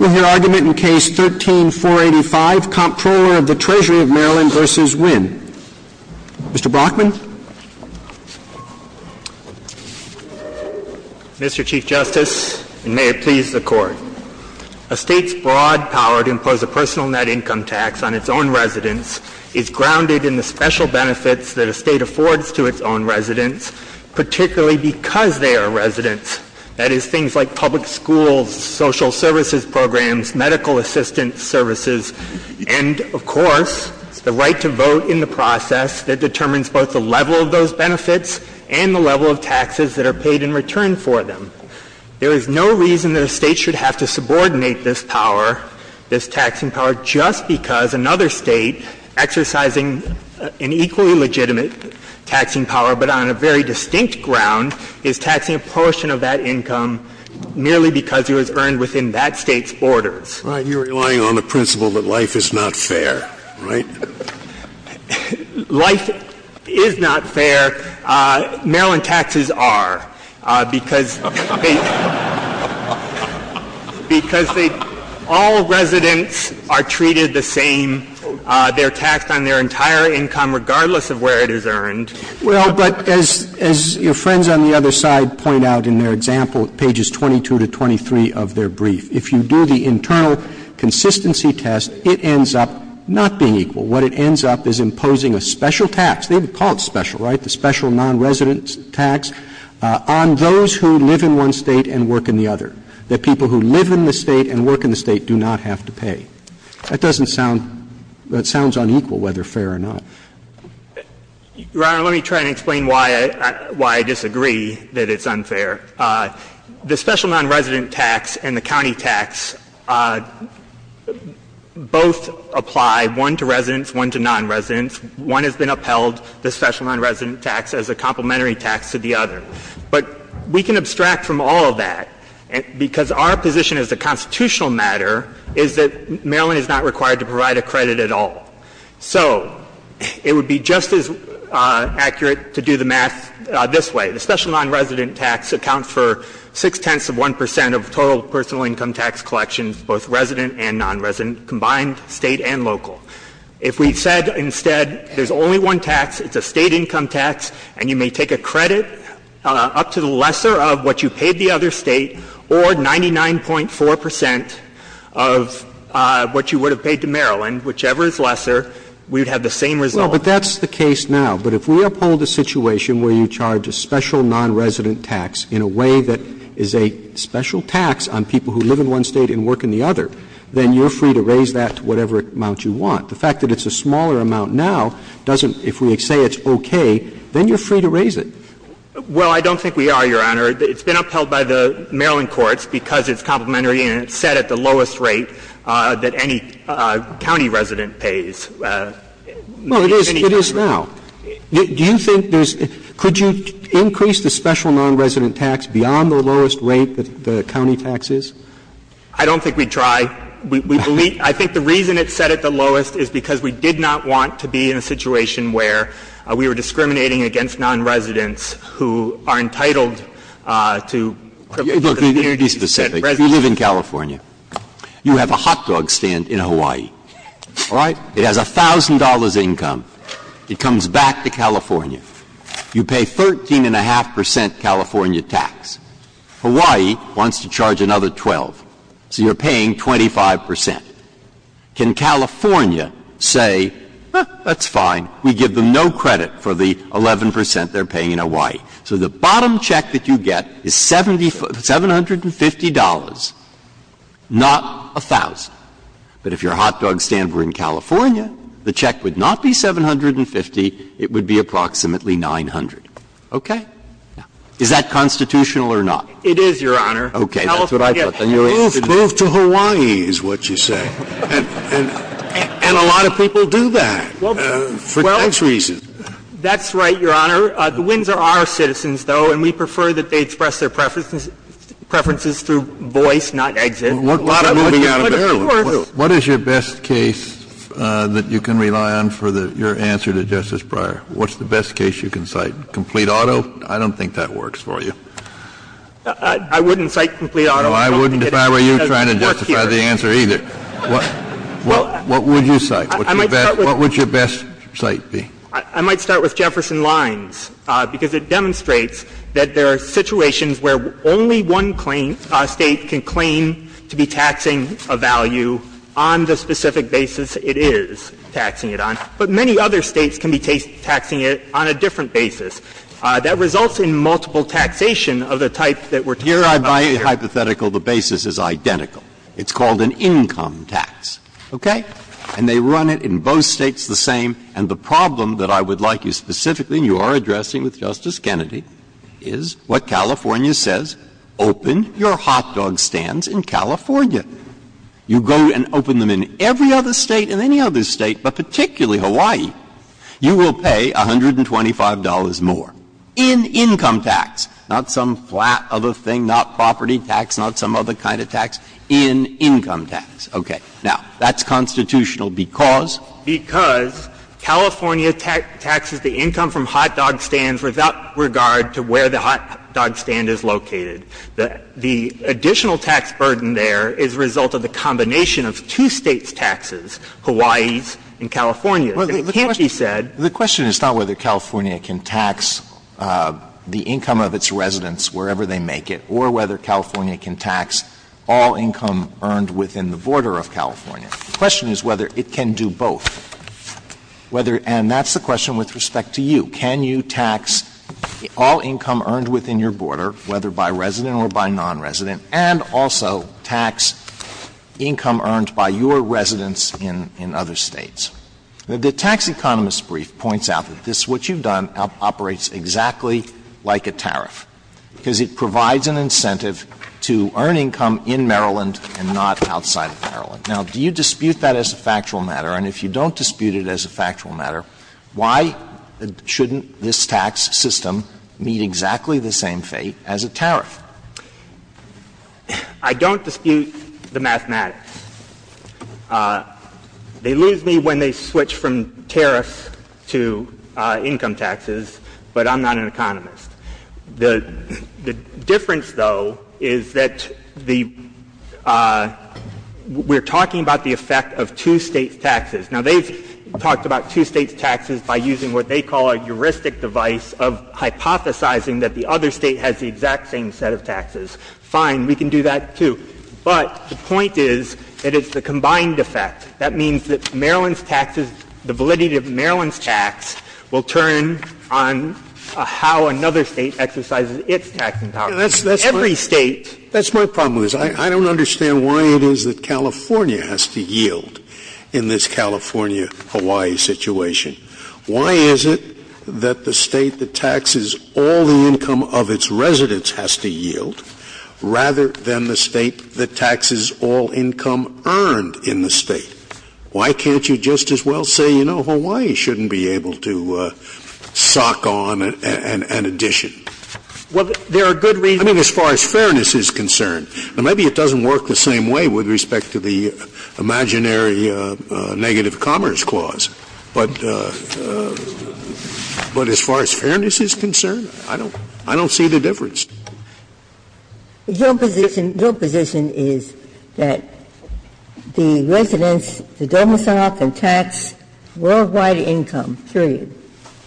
With your argument in Case 13-485, Comptroller of the Treasury of Maryland v. Wynne. Mr. Brockman. Mr. Chief Justice, and may it please the Court. A State's broad power to impose a personal net income tax on its own residents is grounded in the special benefits that a State affords to its own residents, particularly because they are residents. That is, things like public schools, social services programs, medical assistance services, and, of course, the right to vote in the process that determines both the level of those benefits and the level of taxes that are paid in return for them. There is no reason that a State should have to subordinate this power, this taxing power, just because another State exercising an equally legitimate taxing power, but on a very distinct ground, is taxing a portion of that income merely because it was earned within that State's borders. All right. You're relying on the principle that life is not fair, right? Life is not fair. Maryland taxes are, because they — They're taxed on their entire income regardless of where it is earned. Well, but as your friends on the other side point out in their example, pages 22 to 23 of their brief, if you do the internal consistency test, it ends up not being equal. What it ends up is imposing a special tax. They would call it special, right, the special nonresident tax on those who live in one State and work in the other, that people who live in the State and work in the State do not have to pay. That doesn't sound — that sounds unequal, whether fair or not. Your Honor, let me try and explain why I disagree that it's unfair. The special nonresident tax and the county tax both apply, one to residents, one to nonresidents. One has been upheld, the special nonresident tax, as a complementary tax to the other. But we can abstract from all of that, because our position as a constitutional matter is that Maryland is not required to provide a credit at all. So it would be just as accurate to do the math this way. The special nonresident tax accounts for six-tenths of 1 percent of total personal income tax collections, both resident and nonresident, combined, State and local. If we said instead there's only one tax, it's a State income tax, and you may take a credit up to the lesser of what you paid the other State or 99.4 percent of what you would have paid to Maryland, whichever is lesser, we would have the same result. Well, but that's the case now. But if we uphold a situation where you charge a special nonresident tax in a way that is a special tax on people who live in one State and one nonresident state, then you're free to raise it. Well, I don't think we are, Your Honor. It's been upheld by the Maryland courts because it's complementary and it's set at the lowest rate that any county resident pays. Well, it is now. Do you think there's – could you increase the special nonresident tax beyond the lowest rate that the county tax is? I don't think we'd try. I think the reason it's set at the lowest is because we did not want to be in a situation where we were discriminating against nonresidents who are entitled to the community set residence. Let me be specific. If you live in California, you have a hot dog stand in Hawaii, all right? It has $1,000 income. It comes back to California. You pay 13.5 percent California tax. Hawaii wants to charge another 12, so you're paying 25 percent. Can California say, that's fine. We give them no credit for the 11 percent they're paying in Hawaii. So the bottom check that you get is $750, not 1,000. But if your hot dog stand were in California, the check would not be 750. It would be approximately 900. Okay? Is that constitutional or not? It is, Your Honor. Okay. Move to Hawaii is what you say. And a lot of people do that for tax reasons. That's right, Your Honor. The Windsor are citizens, though, and we prefer that they express their preferences through voice, not exit. What is your best case that you can rely on for your answer to Justice Breyer? What's the best case you can cite? Complete Auto? I don't think that works for you. I wouldn't cite Complete Auto. No, I wouldn't if I were you trying to justify the answer either. What would you cite? What would your best cite be? I might start with Jefferson Lines, because it demonstrates that there are situations where only one State can claim to be taxing a value on the specific basis it is taxing it on. But many other States can be taxing it on a different basis. That results in multiple taxation of the type that we're talking about here. Here, by hypothetical, the basis is identical. It's called an income tax. Okay? And they run it in both States the same. And the problem that I would like you specifically, and you are addressing with Justice Kennedy, is what California says. Open your hot dog stands in California. You go and open them in every other State, in any other State, but particularly Hawaii, you will pay $125 more in income tax, not some flat of a thing, not property tax, not some other kind of tax, in income tax. Okay. Now, that's constitutional because? Because California taxes the income from hot dog stands without regard to where the hot dog stand is located. The additional tax burden there is the result of the combination of two States' taxes, Hawaii's and California's. And can't you say? Alito, the question is not whether California can tax the income of its residents wherever they make it, or whether California can tax all income earned within the border of California. The question is whether it can do both. And that's the question with respect to you. Can you tax all income earned within your border, whether by resident or by nonresident, and also tax income earned by your residents in other States? The Tax Economist's brief points out that this, what you've done, operates exactly like a tariff, because it provides an incentive to earn income in Maryland and not outside of Maryland. Now, do you dispute that as a factual matter? And if you don't dispute it as a factual matter, why shouldn't this tax system meet exactly the same fate as a tariff? I don't dispute the mathematics. They lose me when they switch from tariffs to income taxes, but I'm not an economist. The difference, though, is that the we're talking about the effect of two States' taxes. Now, they've talked about two States' taxes by using what they call a heuristic device of hypothesizing that the other State has the exact same set of taxes. Fine. We can do that, too. But the point is that it's the combined effect. That means that Maryland's taxes, the validity of Maryland's tax will turn on how another State exercises its taxing power. Every State. That's my problem with this. I don't understand why it is that California has to yield in this California-Hawaii situation. Why is it that the State that taxes all the income of its residents has to yield rather than the State that taxes all income earned in the State? Why can't you just as well say, you know, Hawaii shouldn't be able to sock on an addition? Well, there are good reasons. I mean, as far as fairness is concerned. Now, maybe it doesn't work the same way with respect to the imaginary negative commerce clause, but as far as fairness is concerned, I don't see the difference. Your position is that the residents, the domicile and tax worldwide income, period.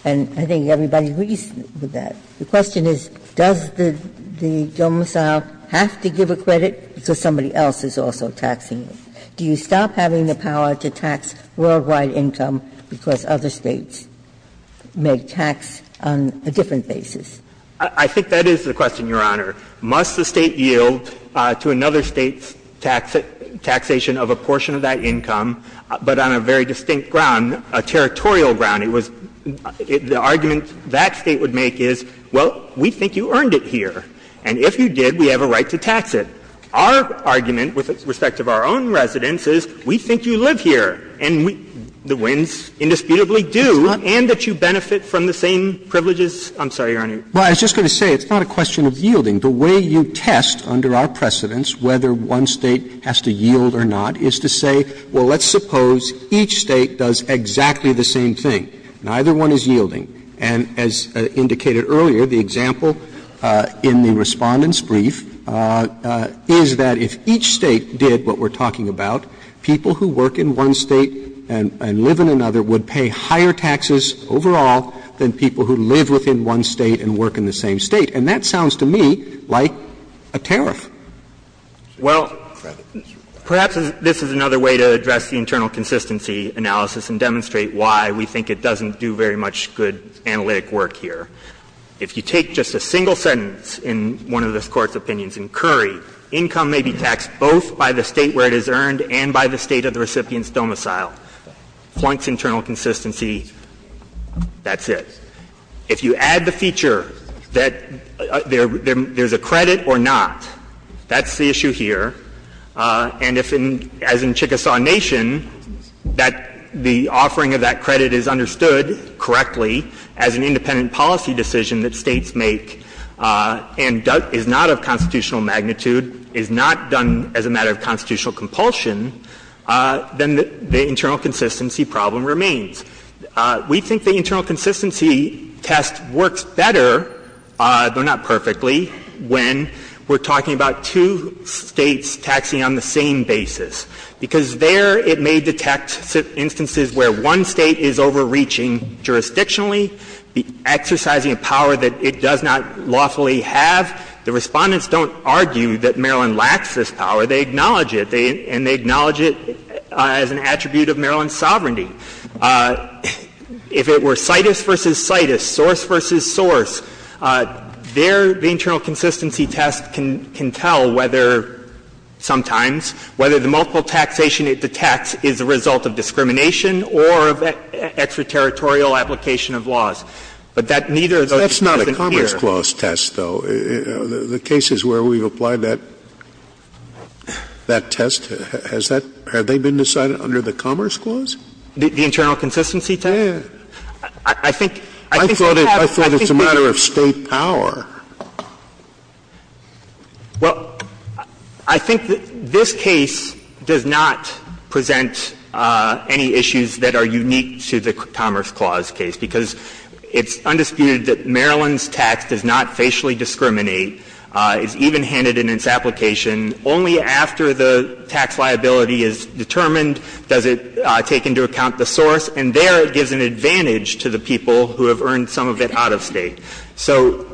And I think everybody agrees with that. The question is, does the domicile have to give a credit because somebody else is also taxing it? Do you stop having the power to tax worldwide income because other States make tax on a different basis? I think that is the question, Your Honor. Must the State yield to another State's taxation of a portion of that income, but on a very distinct ground, a territorial ground? The argument that State would make is, well, we think you earned it here, and if you did, we have a right to tax it. Our argument with respect to our own residents is, we think you live here, and we the winds indisputably do, and that you benefit from the same privileges. I'm sorry, Your Honor. Well, I was just going to say it's not a question of yielding. The way you test under our precedence whether one State has to yield or not is to say, well, let's suppose each State does exactly the same thing. Neither one is yielding. And as indicated earlier, the example in the Respondent's brief is that if each State did what we're talking about, people who work in one State and live in another would pay higher taxes overall than people who live within one State and work in the And that sounds to me like a tariff. Well, perhaps this is another way to address the internal consistency analysis and demonstrate why we think it doesn't do very much good analytic work here. If you take just a single sentence in one of this Court's opinions in Curry, income may be taxed both by the State where it is earned and by the State of the recipient's domicile. Flunks internal consistency. That's it. If you add the feature that there's a credit or not, that's the issue here. And if, as in Chickasaw Nation, that the offering of that credit is understood correctly as an independent policy decision that States make and is not of constitutional magnitude, is not done as a matter of constitutional compulsion, then the internal consistency problem remains. We think the internal consistency test works better, though not perfectly, when we're talking about two States taxing on the same basis, because there it may detect instances where one State is overreaching jurisdictionally, exercising a power that it does not lawfully have. The Respondents don't argue that Maryland lacks this power. They acknowledge it. And they acknowledge it as an attribute of Maryland's sovereignty. If it were CITUS v. CITUS, source v. source, there the internal consistency test can tell whether sometimes, whether the multiple taxation it detects is a result of discrimination or of extraterritorial application of laws. But that neither of those doesn't appear. Scalia. That's not a Commerce Clause test, though. The cases where we've applied that test, has that been decided under the Commerce Clause? The internal consistency test? Yeah. I think it happens. I thought it was a matter of State power. Well, I think this case does not present any issues that are unique to the Commerce Clause case, because it's undisputed that Maryland's tax does not facially discriminate, is evenhanded in its application. Only after the tax liability is determined does it take into account the source. And there it gives an advantage to the people who have earned some of it out of State. So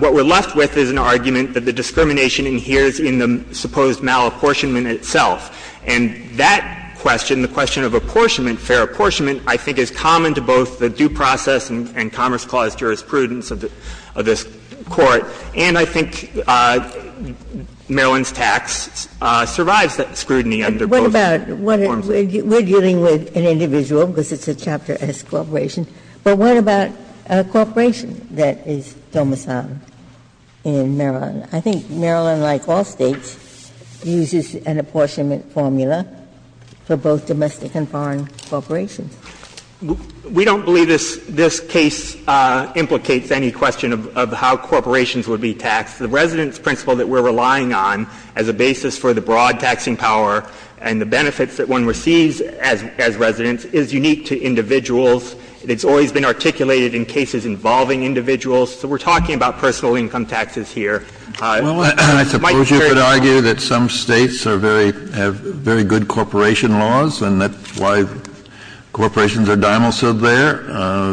what we're left with is an argument that the discrimination adheres in the supposed malapportionment itself. And that question, the question of apportionment, fair apportionment, I think is common to both the due process and Commerce Clause jurisprudence of this Court. And I think Maryland's tax survives that scrutiny under both forms of the law. But what about we're dealing with an individual, because it's a Chapter S corporation. But what about a corporation that is domiciled in Maryland? I think Maryland, like all States, uses an apportionment formula for both domestic and foreign corporations. We don't believe this case implicates any question of how corporations would be taxed. The residence principle that we're relying on as a basis for the broad taxing power and the benefits that one receives as residents is unique to individuals. It's always been articulated in cases involving individuals. So we're talking about personal income taxes here. Kennedy, I suppose you could argue that some States are very good corporation laws, and that's why corporations are domiciled there.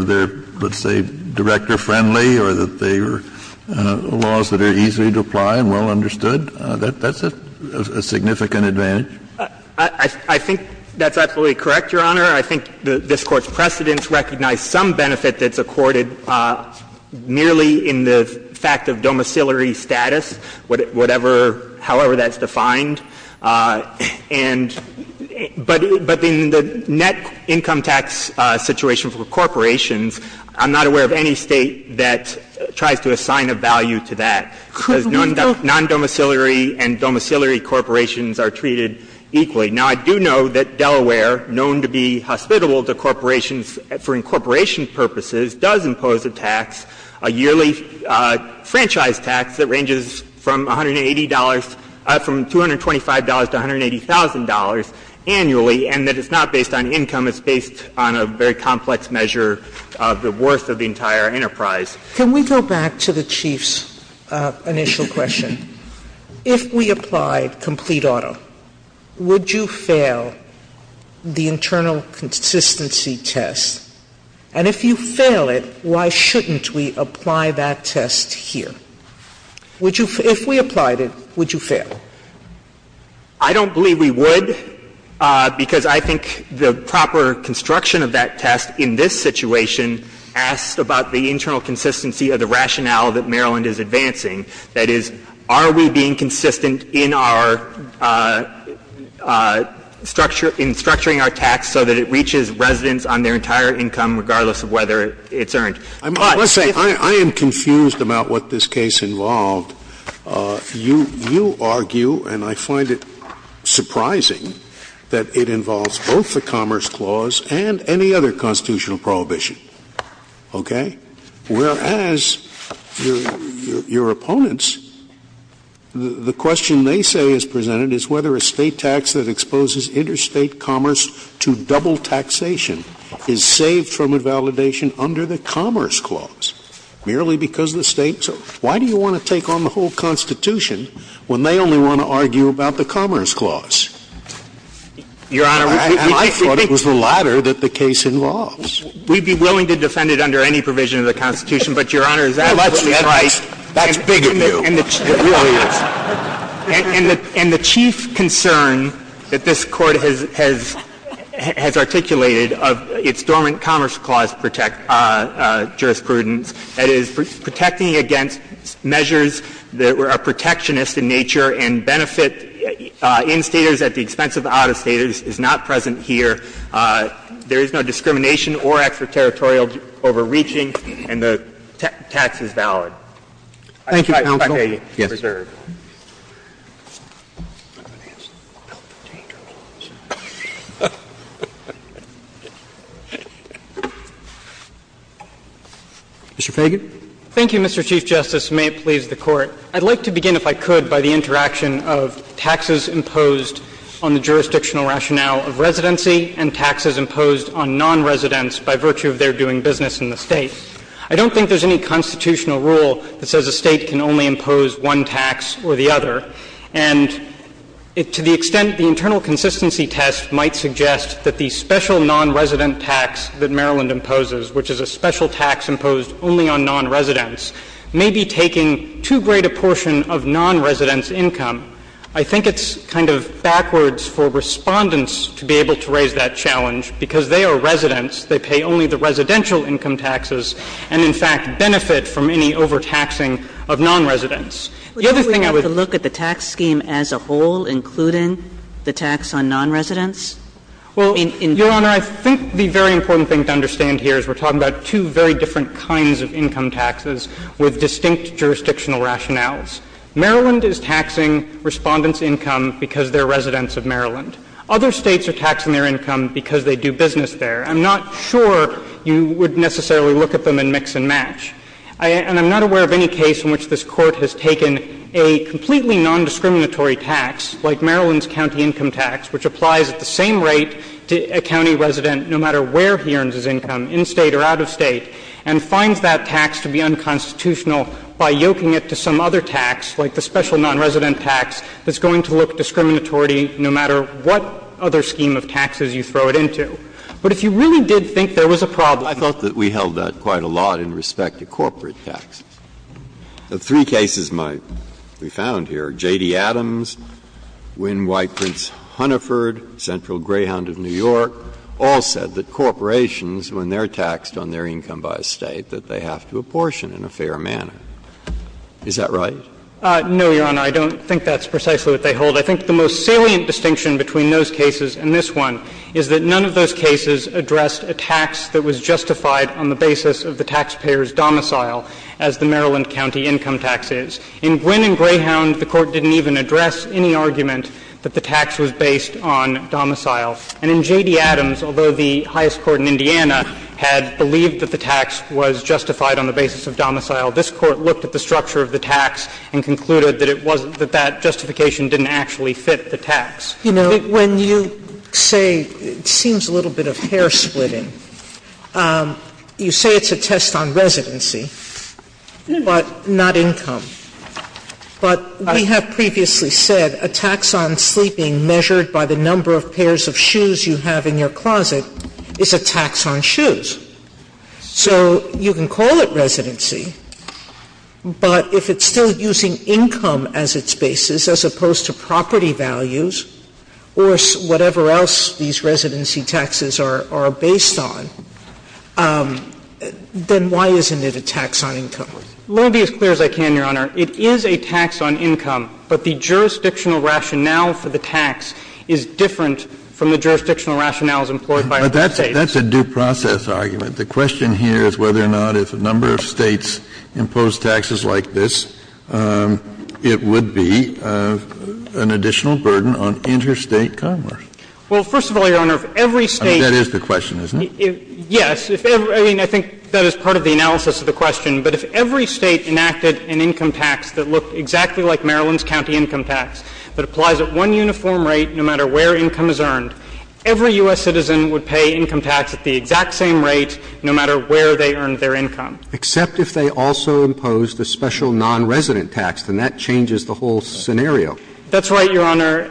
They're, let's say, director-friendly, or that they are laws that are easy to apply and well understood. That's a significant advantage. I think that's absolutely correct, Your Honor. I think this Court's precedents recognize some benefit that's accorded merely in the fact of domiciliary status, whatever, however that's defined. And but in the net income tax situation for corporations, I'm not aware of any State that tries to assign a value to that. Because non-domiciliary and domiciliary corporations are treated equally. Now, I do know that Delaware, known to be hospitable to corporations for incorporation purposes, does impose a tax, a yearly franchise tax that ranges from $180, from $220 to $180,000 annually, and that it's not based on income. It's based on a very complex measure of the worth of the entire enterprise. Sotomayor, can we go back to the Chief's initial question? If we applied complete auto, would you fail the internal consistency test? And if you fail it, why shouldn't we apply that test here? Would you — if we applied it, would you fail? I don't believe we would, because I think the proper construction of that test in this situation asked about the internal consistency of the rationale that Maryland is advancing, that is, are we being consistent in our structure — in structuring our tax so that it reaches residents on their entire income, regardless of whether it's earned. Scalia, I would argue, and I find it surprising, that it involves both the Commerce Clause and any other constitutional prohibition, okay? Whereas, your opponents, the question they say is presented is whether a State tax that exposes interstate commerce to double taxation is saved from invalidation under the Commerce Clause, merely because the States are — why do you want to take on the whole Constitution when they only want to argue about the Commerce Clause? Your Honor, we think — And I thought it was the latter that the case involves. We'd be willing to defend it under any provision of the Constitution, but, Your Honor, is that what's right? That's big of you. It really is. And the Chief concern that this Court has articulated of its dormant Commerce Clause jurisprudence, that is, protecting against measures that are protectionist in nature and benefit in-Staters at the expense of out-of-Staters, is not present here. There is no discrimination or extraterritorial overreaching, and the tax is valid. Thank you, Counsel. Yes. Mr. Feigin. Thank you, Mr. Chief Justice, and may it please the Court. I'd like to begin, if I could, by the interaction of taxes imposed on the jurisdictional rationale of residency and taxes imposed on non-residents by virtue of their doing business in the State. I don't think there's any constitutional rule that says a State can only impose one tax or the other. And to the extent the internal consistency test might suggest that the special non-resident tax that Maryland imposes, which is a special tax imposed only on non-residents, may be taking too great a portion of non-residents' income. I think it's kind of backwards for Respondents to be able to raise that challenge, because they are residents. They pay only the residential income taxes and, in fact, benefit from any overtaxing of non-residents. The other thing I would say to you is that if you look at the tax scheme as a whole, including the tax on non-residents, I mean, in terms of non-residents, it's not a tax on non-residents. Well, Your Honor, I think the very important thing to understand here is we're talking about two very different kinds of income taxes with distinct jurisdictional rationales. Maryland is taxing Respondents' income because they're residents of Maryland. Other States are taxing their income because they do business there. I'm not sure you would necessarily look at them and mix and match. And I'm not aware of any case in which this Court has taken a completely nondiscriminatory tax, like Maryland's county income tax, which applies at the same rate to a county resident, no matter where he earns his income, in State or out of State, and finds that tax to be unconstitutional by yoking it to some other tax, like the special non-resident tax, that's going to look discriminatory no matter what other scheme of taxes you throw it into. But if you really did think there was a problem here, I think you would look at it as a tax on non-residents. Breyer. I thought that we held that quite a lot in respect to corporate taxes. The three cases we found here, J.D. Adams, Wynne White Prince Hunneford, Central Greyhound of New York, all said that corporations, when they're taxed on their income by a State, that they have to apportion in a fair manner. Is that right? No, Your Honor. I don't think that's precisely what they hold. I think the most salient distinction between those cases and this one is that none of those cases addressed a tax that was justified on the basis of the taxpayer's domicile, as the Maryland county income tax is. In Wynne and Greyhound, the Court didn't even address any argument that the tax was based on domicile. And in J.D. Adams, although the highest court in Indiana had believed that the tax was justified on the basis of domicile, this Court looked at the structure of the tax and concluded that it wasn't that that justification didn't actually fit the tax. You know, when you say it seems a little bit of hair-splitting, you say it's a test on residency, but not income. But we have previously said a tax on sleeping measured by the number of pairs of shoes you have in your closet is a tax on shoes. So you can call it residency, but if it's still using income as its basis as opposed to property values or whatever else these residency taxes are based on, then why isn't it a tax on income? Let me be as clear as I can, Your Honor. It is a tax on income, but the jurisdictional rationale for the tax is different from the jurisdictional rationales employed by other States. Kennedy, that's a due process argument. The question here is whether or not if a number of States impose taxes like this, it would be an additional burden on interstate commerce. Well, first of all, Your Honor, if every State That is the question, isn't it? Yes. I mean, I think that is part of the analysis of the question. But if every State enacted an income tax that looked exactly like Maryland's county income tax, that applies at one uniform rate no matter where income is earned, every U.S. citizen would pay income tax at the exact same rate no matter where they earned their income. Except if they also imposed a special nonresident tax, then that changes the whole scenario. That's right, Your Honor.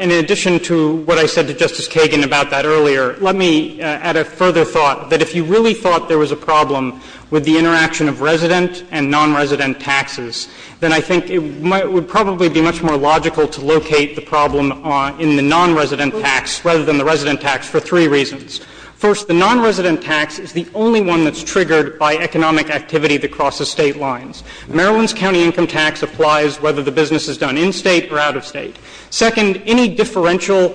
In addition to what I said to Justice Kagan about that earlier, let me add a further thought, that if you really thought there was a problem with the interaction of resident and nonresident taxes, then I think it would probably be much more logical to locate the problem in the nonresident tax rather than the resident tax for three reasons. First, the nonresident tax is the only one that's triggered by economic activity that crosses State lines. Maryland's county income tax applies whether the business is done in State or out of State. Second, any differential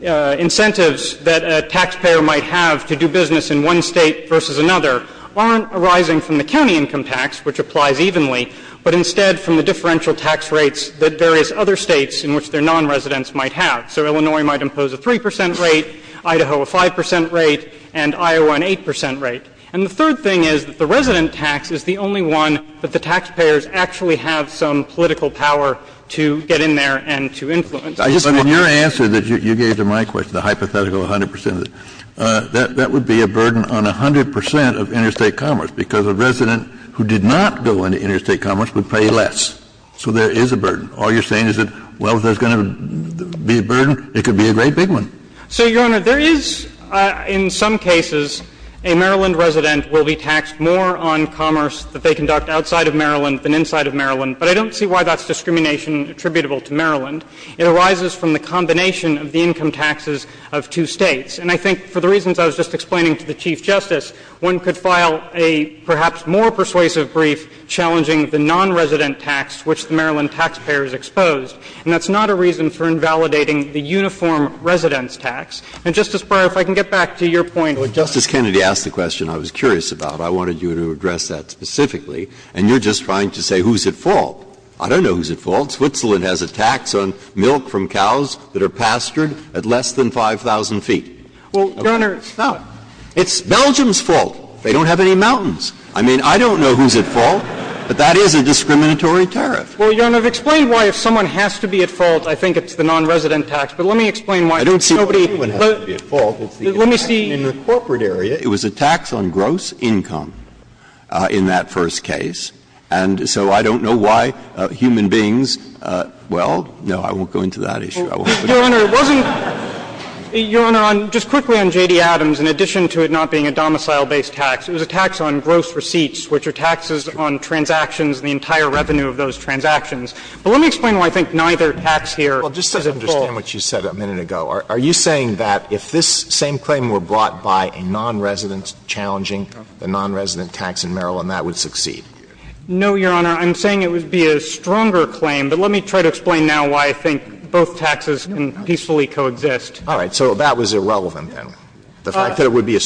incentives that a taxpayer might have to do business in one State versus another aren't arising from the county income tax, which applies evenly, but instead from the differential tax rates that various other States in which their nonresidents might have. So Illinois might impose a 3 percent rate, Idaho a 5 percent rate, and Iowa an 8 percent rate. And the third thing is that the resident tax is the only one that the taxpayers actually have some political power to get in there and to influence. I just want to add to that. But in your answer that you gave to my question, the hypothetical 100 percent, that would be a burden on 100 percent of interstate commerce, because a resident who did not go into interstate commerce would pay less. So there is a burden. All you're saying is that, well, if there's going to be a burden, it could be a great big one. So, Your Honor, there is, in some cases, a Maryland resident will be taxed more on commerce that they conduct outside of Maryland than inside of Maryland. But I don't see why that's discrimination attributable to Maryland. It arises from the combination of the income taxes of two States. And I think for the reasons I was just explaining to the Chief Justice, one could file a perhaps more persuasive brief challenging the nonresident tax which the Maryland taxpayer is exposed. And that's not a reason for invalidating the uniform residence tax. And, Justice Breyer, if I can get back to your point. Breyer, Justice Kennedy asked a question I was curious about. I wanted you to address that specifically. And you're just trying to say who's at fault. I don't know who's at fault. Switzerland has a tax on milk from cows that are pastured at less than 5,000 feet. Well, Your Honor, it's not. It's Belgium's fault. They don't have any mountains. I mean, I don't know who's at fault, but that is a discriminatory tariff. Well, Your Honor, explain why if someone has to be at fault, I think it's the nonresident tax. But let me explain why nobody. I don't see why anyone has to be at fault. Let me see. In the corporate area, it was a tax on gross income in that first case. And so I don't know why human beings – well, no, I won't go into that issue. I won't. Your Honor, it wasn't – Your Honor, just quickly on J.D. Adams, in addition to it not being a domicile-based tax, it was a tax on gross receipts, which are taxes on transactions, the entire revenue of those transactions. But let me explain why I think neither tax here is at fault. Well, just to understand what you said a minute ago, are you saying that if this same claim were brought by a nonresident challenging the nonresident tax in Maryland, that would succeed? No, Your Honor. I'm saying it would be a stronger claim, but let me try to explain now why I think both taxes can peacefully coexist. All right. It would be a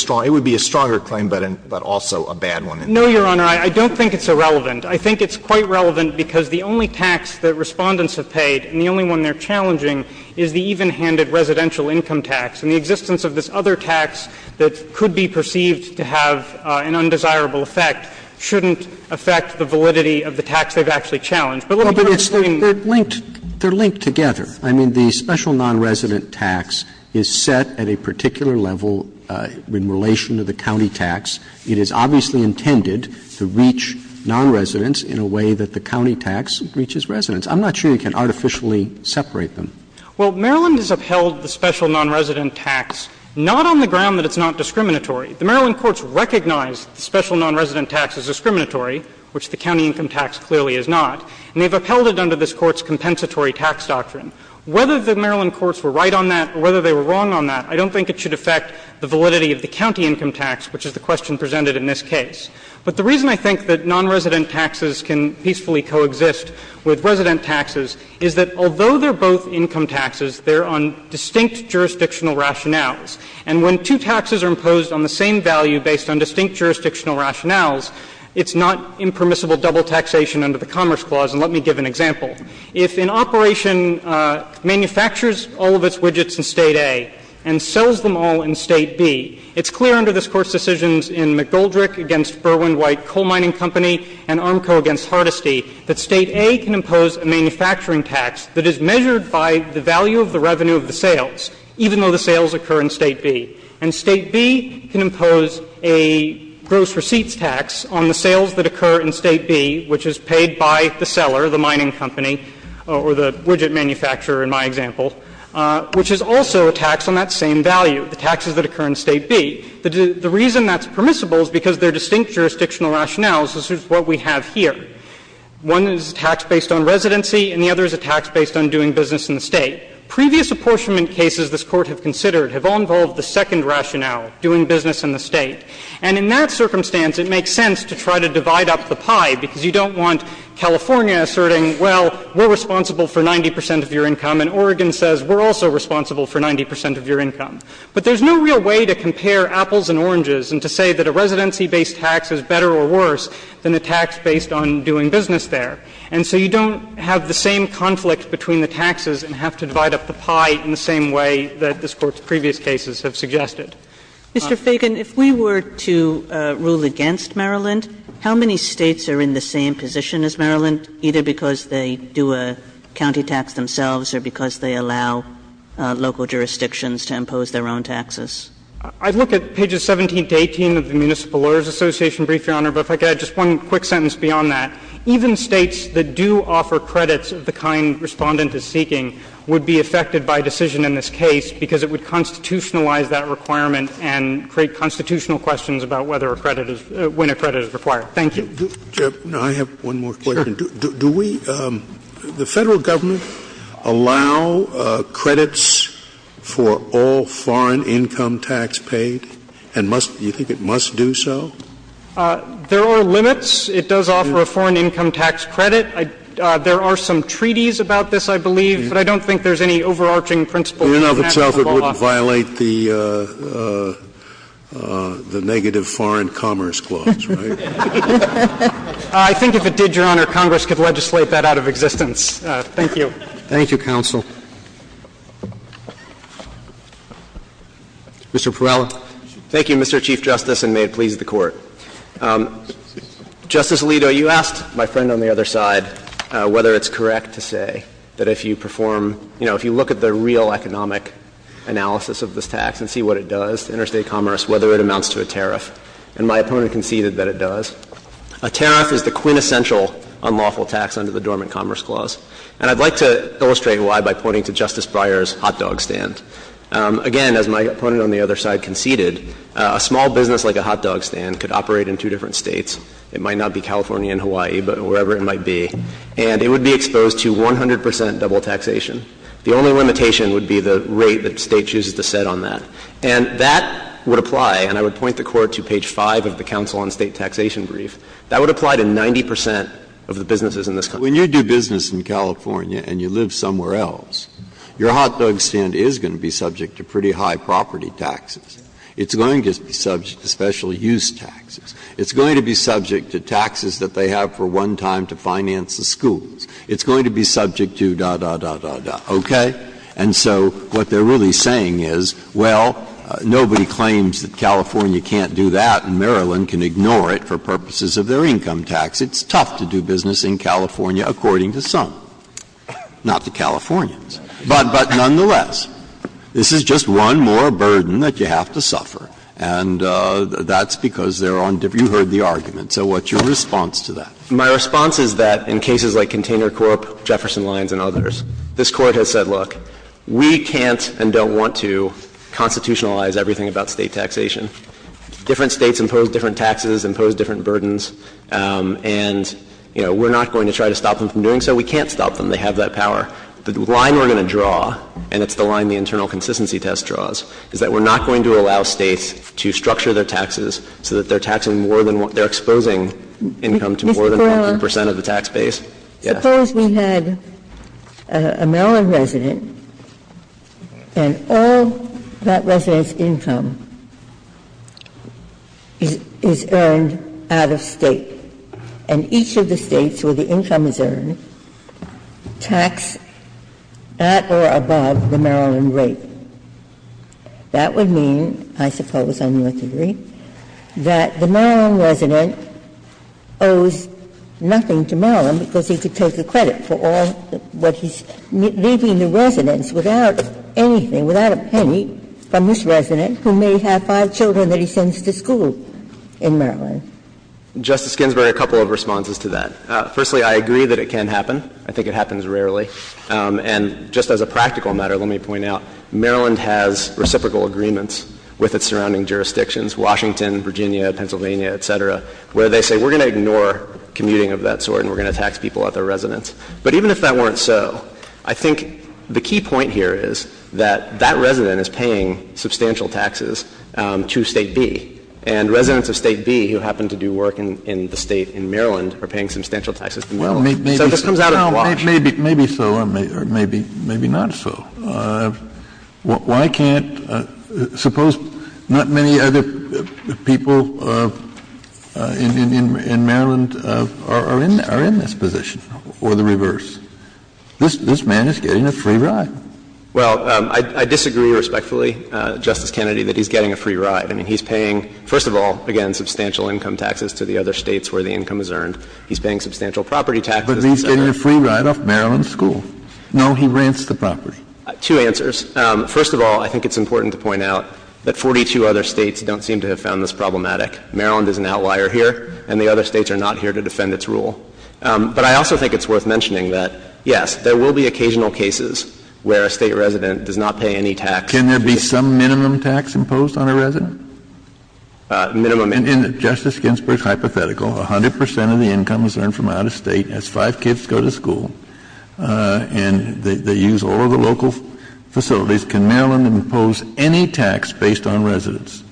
stronger claim, but also a bad one. No, Your Honor. I don't think it's irrelevant. I think it's quite relevant because the only tax that Respondents have paid, and the only one they're challenging, is the even-handed residential income tax. And the existence of this other tax that could be perceived to have an undesirable effect shouldn't affect the validity of the tax they've actually challenged. But let me put it this way. They're linked together. I mean, the special nonresident tax is set at a particular level in relation to the county tax. It is obviously intended to reach nonresidents in a way that the county tax reaches residents. I'm not sure you can artificially separate them. Well, Maryland has upheld the special nonresident tax not on the ground that it's not discriminatory. The Maryland courts recognize the special nonresident tax is discriminatory, which the county income tax clearly is not. And they've upheld it under this Court's compensatory tax doctrine. Whether the Maryland courts were right on that or whether they were wrong on that, I don't think it should affect the validity of the county income tax, which is the question presented in this case. But the reason I think that nonresident taxes can peacefully coexist with resident taxes is that although they're both income taxes, they're on distinct jurisdictional rationales. And when two taxes are imposed on the same value based on distinct jurisdictional rationales, it's not impermissible double taxation under the Commerce Clause. And let me give an example. If an operation manufactures all of its widgets in State A and sells them all in State B, it's clear under this Court's decisions in McGoldrick v. Berwyn-White Coal Mining Company and Armco v. Hardesty that State A can impose a manufacturing tax that is measured by the value of the revenue of the sales, even though the sales occur in State B. And State B can impose a gross receipts tax on the sales that occur in State B, which is paid by the seller, the mining company, or the widget manufacturer in my example, which is also a tax on that same value, the taxes that occur in State B. The reason that's permissible is because they're distinct jurisdictional rationales, as is what we have here. One is a tax based on residency, and the other is a tax based on doing business in the State. Previous apportionment cases this Court have considered have all involved the second rationale, doing business in the State. And in that circumstance, it makes sense to try to divide up the pie, because you don't want California asserting, well, we're responsible for 90 percent of your income, and Oregon says we're also responsible for 90 percent of your income. But there's no real way to compare apples and oranges and to say that a residency-based tax is better or worse than a tax based on doing business there. And so you don't have the same conflict between the taxes and have to divide up the pie in the same way that this Court's previous cases have suggested. Kagan, if we were to rule against Maryland, how many States are in the same position as Maryland, either because they do a county tax themselves or because they allow local jurisdictions to impose their own taxes? I'd look at pages 17 to 18 of the Municipal Lawyers Association brief, Your Honor, but if I could add just one quick sentence beyond that. Even States that do offer credits of the kind Respondent is seeking would be affected by decision in this case because it would constitutionalize that requirement and create constitutional questions about whether a credit is — when a credit is required. Thank you. Scalia, I have one more question. Sure. Do we — the Federal Government allow credits for all foreign income tax paid? And must — do you think it must do so? There are limits. It does offer a foreign income tax credit. There are some treaties about this, I believe, but I don't think there's any overall I think that it would violate the overarching principles of the national law. In and of itself it wouldn't violate the negative foreign commerce clause, right? I think if it did, Your Honor, Congress could legislate that out of existence. Thank you. Thank you, counsel. Mr. Perala. Thank you, Mr. Chief Justice, and may it please the Court. Justice Alito, you asked my friend on the other side whether it's correct to say that if you perform — you know, if you look at the real economic analysis of this tax and see what it does to interstate commerce, whether it amounts to a tariff. And my opponent conceded that it does. A tariff is the quintessential unlawful tax under the Dormant Commerce Clause. And I'd like to illustrate why by pointing to Justice Breyer's hot dog stand. Again, as my opponent on the other side conceded, a small business like a hot dog stand could operate in two different States. It might not be California and Hawaii, but wherever it might be. And it would be exposed to 100 percent double taxation. The only limitation would be the rate that the State chooses to set on that. And that would apply, and I would point the Court to page 5 of the Council on State Taxation brief, that would apply to 90 percent of the businesses in this country. When you do business in California and you live somewhere else, your hot dog stand is going to be subject to pretty high property taxes. It's going to be subject to special use taxes. It's going to be subject to taxes that they have for one time to finance the schools. It's going to be subject to da, da, da, da, da. Okay? And so what they're really saying is, well, nobody claims that California can't do that and Maryland can ignore it for purposes of their income tax. It's tough to do business in California, according to some, not the Californians. But nonetheless, this is just one more burden that you have to suffer. And that's because they're on different – you heard the argument. So what's your response to that? My response is that in cases like Container Corp., Jefferson Lines, and others, this Court has said, look, we can't and don't want to constitutionalize everything about State taxation. Different States impose different taxes, impose different burdens. And, you know, we're not going to try to stop them from doing so. We can't stop them. They have that power. The line we're going to draw, and it's the line the internal consistency test draws, is that we're not going to allow States to structure their taxes so that they're taxing more than – they're exposing income to more than 100 percent of the tax base. Yes. Suppose we had a Maryland resident and all that resident's income is earned out of State, and each of the States where the income is earned tax at or above the Maryland rate. That would mean, I suppose on your theory, that the Maryland resident owes nothing to Maryland because he could take the credit for all that he's leaving the residents without anything, without a penny, from this resident who may have five children that he sends to school in Maryland. Justice Ginsburg, a couple of responses to that. Firstly, I agree that it can happen. I think it happens rarely. And just as a practical matter, let me point out, Maryland has reciprocal agreements with its surrounding jurisdictions, Washington, Virginia, Pennsylvania, et cetera, where they say we're going to ignore commuting of that sort and we're going to tax people at their residence. But even if that weren't so, I think the key point here is that that resident is paying substantial taxes to State B. And residents of State B who happen to do work in the State in Maryland are paying substantial taxes to Maryland. So this comes out on a watch. Maybe so or maybe not so. Why can't — suppose not many other people in Maryland are in this position or the reverse. This man is getting a free ride. Well, I disagree respectfully, Justice Kennedy, that he's getting a free ride. I mean, he's paying, first of all, again, substantial income taxes to the other States where the income is earned. He's paying substantial property taxes. But he's getting a free ride off Maryland school. No, he rents the property. Two answers. First of all, I think it's important to point out that 42 other States don't seem to have found this problematic. Maryland is an outlier here, and the other States are not here to defend its rule. But I also think it's worth mentioning that, yes, there will be occasional cases where a State resident does not pay any tax. Can there be some minimum tax imposed on a resident? Minimum. In Justice Ginsburg's hypothetical, 100 percent of the income is earned from out of State as five kids go to school, and they use all of the local facilities. Can Maryland impose any tax based on residents?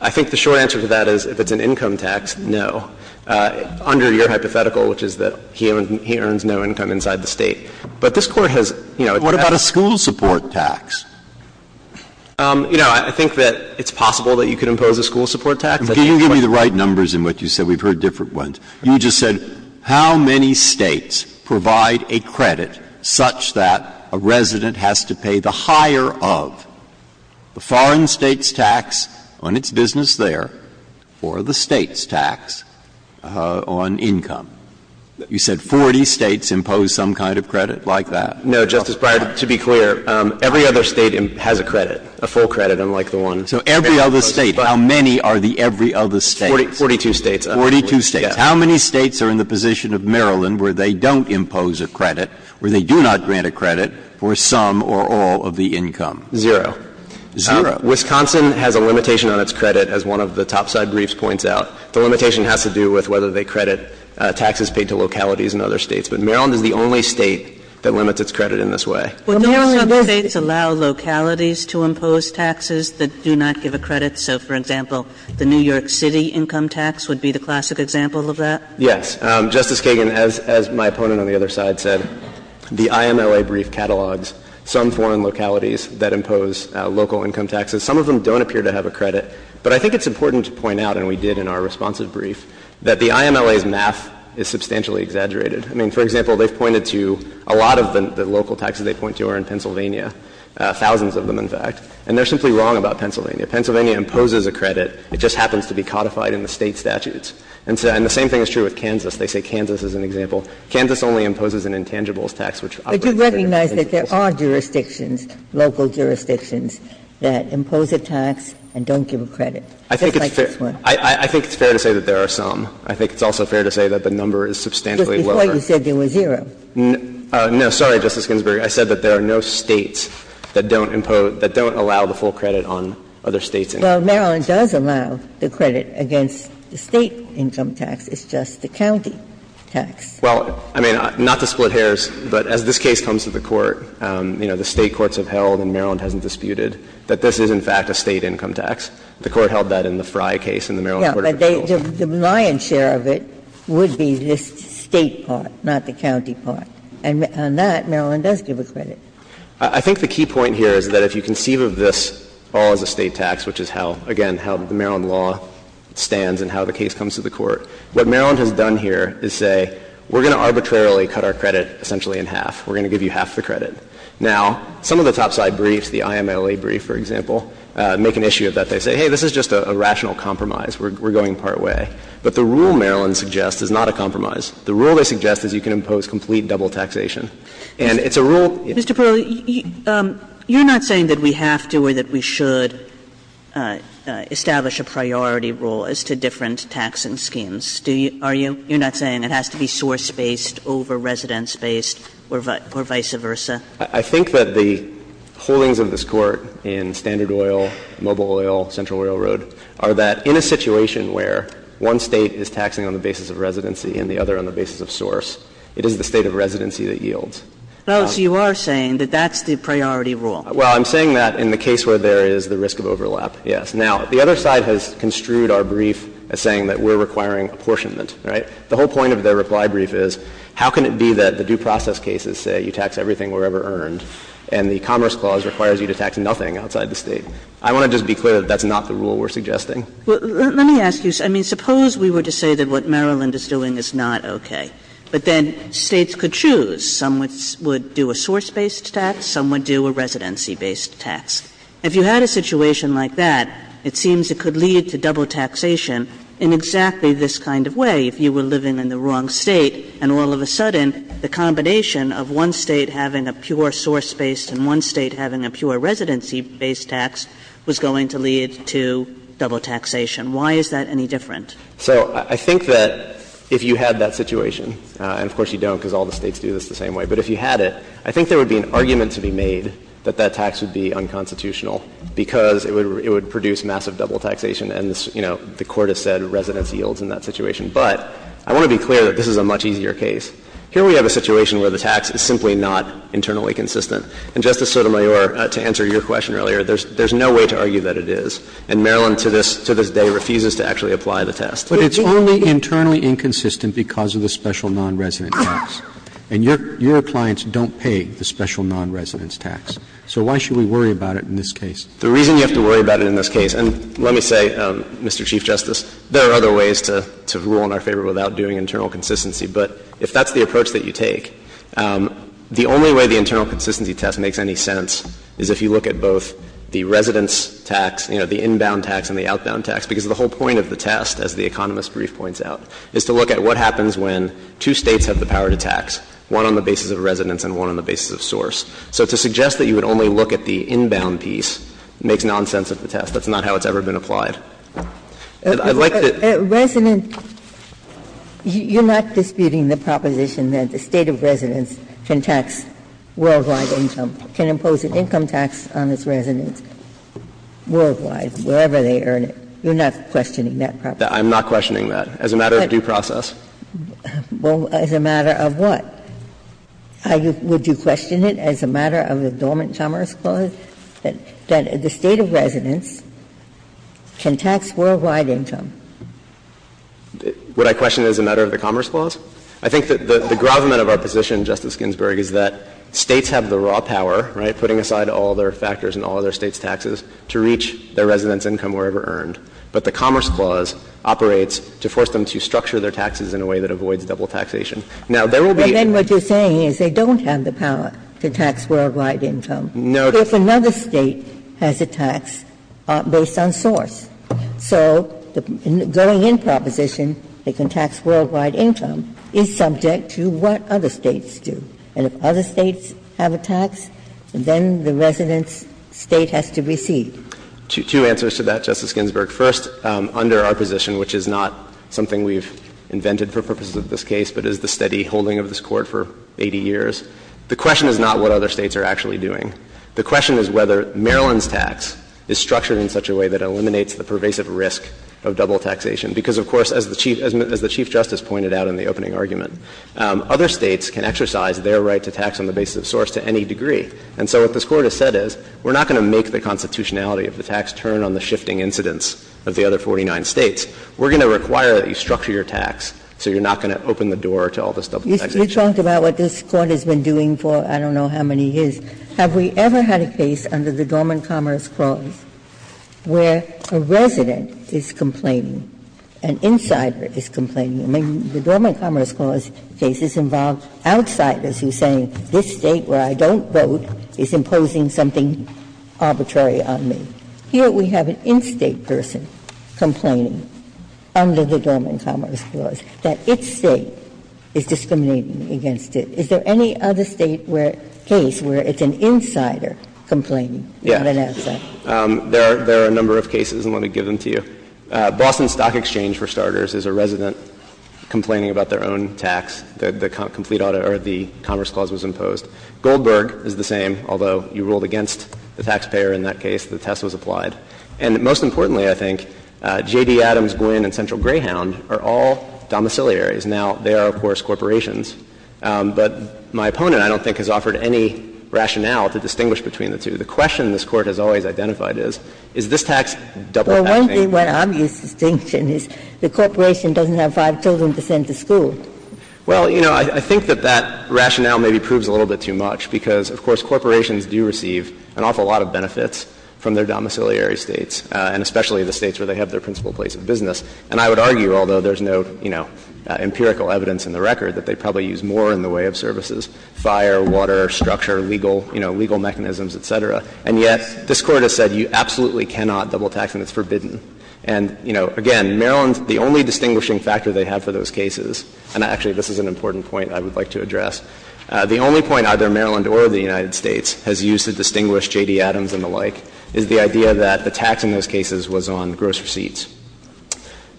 I think the short answer to that is if it's an income tax, no. Under your hypothetical, which is that he earns no income inside the State. But this Court has, you know, it's not a school support tax. You know, I think that it's possible that you could impose a school support tax. Can you give me the right numbers in what you said? We've heard different ones. You just said how many States provide a credit such that a resident has to pay the higher of the foreign State's tax on its business there for the State's tax on income? You said 40 States impose some kind of credit like that? No, Justice Breyer. To be clear, every other State has a credit, a full credit, unlike the one. So every other State. How many are the every other States? Forty-two States. Forty-two States. How many States are in the position of Maryland where they don't impose a credit, where they do not grant a credit for some or all of the income? Zero. Zero. Wisconsin has a limitation on its credit, as one of the topside briefs points out. The limitation has to do with whether they credit taxes paid to localities in other States. But Maryland is the only State that limits its credit in this way. But Maryland does. Don't some States allow localities to impose taxes that do not give a credit? So, for example, the New York City income tax would be the classic example of that? Yes. Justice Kagan, as my opponent on the other side said, the IMLA brief catalogs some foreign localities that impose local income taxes. Some of them don't appear to have a credit. But I think it's important to point out, and we did in our responsive brief, that the IMLA's math is substantially exaggerated. I mean, for example, they've pointed to a lot of the local taxes they point to are in Pennsylvania, thousands of them, in fact. And they're simply wrong about Pennsylvania. Pennsylvania imposes a credit. It just happens to be codified in the State statutes. And the same thing is true with Kansas. They say Kansas is an example. Kansas only imposes an intangibles tax, which operates for their interest. But you recognize that there are jurisdictions, local jurisdictions, that impose a tax and don't give a credit, just like this one. I think it's fair to say that there are some. I think it's also fair to say that the number is substantially lower. Because before you said there was zero. No. Sorry, Justice Ginsburg. I said that there are no States that don't impose, that don't allow the full credit on other States. Well, Maryland does allow the credit against the State income tax. It's just the county tax. Well, I mean, not to split hairs, but as this case comes to the Court, you know, the state tax is, in fact, a State income tax. The Court held that in the Frye case and the Maryland court of appeals. Yeah, but the lion's share of it would be the State part, not the county part. And on that, Maryland does give a credit. I think the key point here is that if you conceive of this all as a State tax, which is how, again, how the Maryland law stands and how the case comes to the Court, what Maryland has done here is say, we're going to arbitrarily cut our credit essentially in half. We're going to give you half the credit. Now, some of the topside briefs, the IMLA brief, for example, make an issue of that. They say, hey, this is just a rational compromise. We're going part way. But the rule Maryland suggests is not a compromise. The rule they suggest is you can impose complete double taxation. And it's a rule. Kagan. Kagan. Mr. Perl, you're not saying that we have to or that we should establish a priority rule as to different taxing schemes, are you? You're not saying it has to be source-based over residence-based or vice versa? I think that the holdings of this Court in Standard Oil, Mobile Oil, Central Oil Road are that in a situation where one State is taxing on the basis of residency and the other on the basis of source, it is the State of residency that yields. Oh, so you are saying that that's the priority rule. Well, I'm saying that in the case where there is the risk of overlap, yes. Now, the other side has construed our brief as saying that we're requiring apportionment, right? The whole point of their reply brief is how can it be that the due process cases say you tax everything wherever earned and the Commerce Clause requires you to tax nothing outside the State? I want to just be clear that that's not the rule we're suggesting. Well, let me ask you. I mean, suppose we were to say that what Maryland is doing is not okay, but then States could choose. Some would do a source-based tax, some would do a residency-based tax. If you had a situation like that, it seems it could lead to double taxation in exactly this kind of way. If you were living in the wrong State and all of a sudden the combination of one State having a pure source-based and one State having a pure residency-based tax was going to lead to double taxation, why is that any different? So I think that if you had that situation, and of course you don't because all the States do this the same way, but if you had it, I think there would be an argument to be made that that tax would be unconstitutional because it would produce massive double taxation and, you know, the Court has said residence yields in that situation. But I want to be clear that this is a much easier case. Here we have a situation where the tax is simply not internally consistent. And, Justice Sotomayor, to answer your question earlier, there's no way to argue that it is, and Maryland to this day refuses to actually apply the test. But it's only internally inconsistent because of the special non-resident tax. And your clients don't pay the special non-resident tax. So why should we worry about it in this case? The reason you have to worry about it in this case, and let me say, Mr. Chief Justice, there are other ways to rule in our favor without doing internal consistency. But if that's the approach that you take, the only way the internal consistency test makes any sense is if you look at both the residence tax, you know, the inbound tax and the outbound tax, because the whole point of the test, as the Economist brief points out, is to look at what happens when two States have the power to tax, one on the basis of residence and one on the basis of source. So to suggest that you would only look at the inbound piece makes nonsense of the test. That's not how it's ever been applied. And I'd like to see that. Ginsburg You're not disputing the proposition that the State of Residence can tax worldwide income, can impose an income tax on its residents worldwide, wherever they earn it. You're not questioning that proposition? Shanmugam I'm not questioning that. As a matter of due process. Ginsburg Well, as a matter of what? Would you question it as a matter of the Dormant Commerce Clause? Would you question that the State of Residence can tax worldwide income? Shanmugam Would I question it as a matter of the Commerce Clause? I think that the gravamen of our position, Justice Ginsburg, is that States have the raw power, right, putting aside all their factors and all their States' taxes to reach their residents' income wherever earned. But the Commerce Clause operates to force them to structure their taxes in a way that avoids double taxation. Now, there will be other ways. Ginsburg But then what you're saying is they don't have the power to tax worldwide income. Shanmugam No. Ginsburg But what if another State has a tax based on source? So the going-in proposition, they can tax worldwide income, is subject to what other States do. And if other States have a tax, then the resident's State has to receive. Shanmugam Two answers to that, Justice Ginsburg. First, under our position, which is not something we've invented for purposes of this case, but is the steady holding of this Court for 80 years, the question is not what other States are actually doing. The question is whether Maryland's tax is structured in such a way that eliminates the pervasive risk of double taxation. Because, of course, as the Chief Justice pointed out in the opening argument, other States can exercise their right to tax on the basis of source to any degree. And so what this Court has said is we're not going to make the constitutionality of the tax turn on the shifting incidence of the other 49 States. We're going to require that you structure your tax so you're not going to open the door to all this double taxation. Ginsburg You talked about what this Court has been doing for I don't know how many years. Have we ever had a case under the Dormant Commerce Clause where a resident is complaining, an insider is complaining? I mean, the Dormant Commerce Clause case is involved outsiders who say this State, where I don't vote, is imposing something arbitrary on me. Here we have an in-State person complaining under the Dormant Commerce Clause that its State is discriminating against it. Is there any other State case where it's an insider complaining, not an outsider? There are a number of cases, and let me give them to you. Boston Stock Exchange, for starters, is a resident complaining about their own tax. The complete auto or the Commerce Clause was imposed. Goldberg is the same, although you ruled against the taxpayer in that case. The test was applied. And most importantly, I think, J.D. Adams, Gwinn, and Central Greyhound are all domiciliaries. Now, they are, of course, corporations, but my opponent, I don't think, has offered any rationale to distinguish between the two. The question this Court has always identified is, is this tax double taxing? Ginsburg Well, one thing, one obvious distinction is the corporation doesn't have five children to send to school. Well, you know, I think that that rationale maybe proves a little bit too much, because, of course, corporations do receive an awful lot of benefits from their domiciliary states, and especially the states where they have their principal place of business. And I would argue, although there's no, you know, empirical evidence in the record that they probably use more in the way of services, fire, water, structure, legal, you know, legal mechanisms, et cetera. And yet this Court has said you absolutely cannot double tax, and it's forbidden. And, you know, again, Maryland, the only distinguishing factor they have for those cases, and actually this is an important point I would like to address, the only point either Maryland or the United States has used to distinguish J.D. Adams and the like is the idea that the tax in those cases was on gross receipts.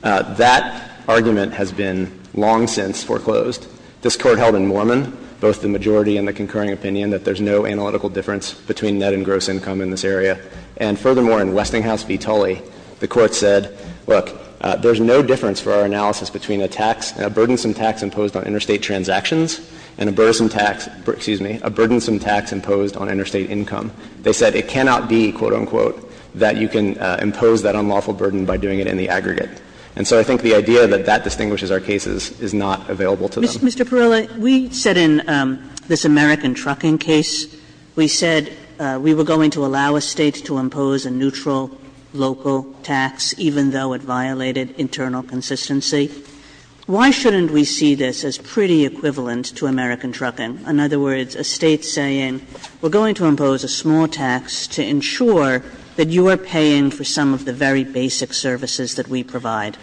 That argument has been long since foreclosed. This Court held in Mormon, both the majority and the concurring opinion, that there's no analytical difference between net and gross income in this area. And furthermore, in Westinghouse v. Tully, the Court said, look, there's no difference for our analysis between a tax, a burdensome tax imposed on interstate transactions and a burdensome tax, excuse me, a burdensome tax imposed on interstate income. They said it cannot be, quote, unquote, that you can impose that unlawful burden by doing it in the aggregate. And so I think the idea that that distinguishes our cases is not available to them. Kagan, Mr. Perilla, we said in this American Trucking case, we said we were going to allow a State to impose a neutral local tax even though it violated internal consistency. Why shouldn't we see this as pretty equivalent to American Trucking? In other words, a State saying we're going to impose a small tax to ensure that you are paying for some of the very basic services that we provide.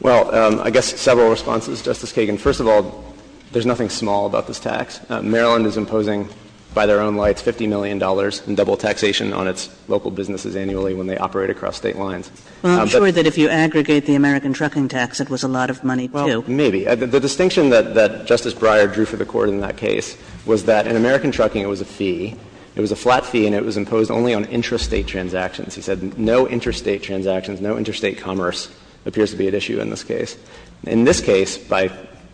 Well, I guess several responses, Justice Kagan. First of all, there's nothing small about this tax. Maryland is imposing, by their own lights, $50 million in double taxation on its local businesses annually when they operate across State lines. Well, I'm sure that if you aggregate the American Trucking tax, it was a lot of money, too. Well, maybe. The distinction that Justice Breyer drew for the Court in that case was that in American Trucking it was a fee. It was a flat fee and it was imposed only on intrastate transactions. He said no interstate transactions, no interstate commerce appears to be at issue in this case. In this case, by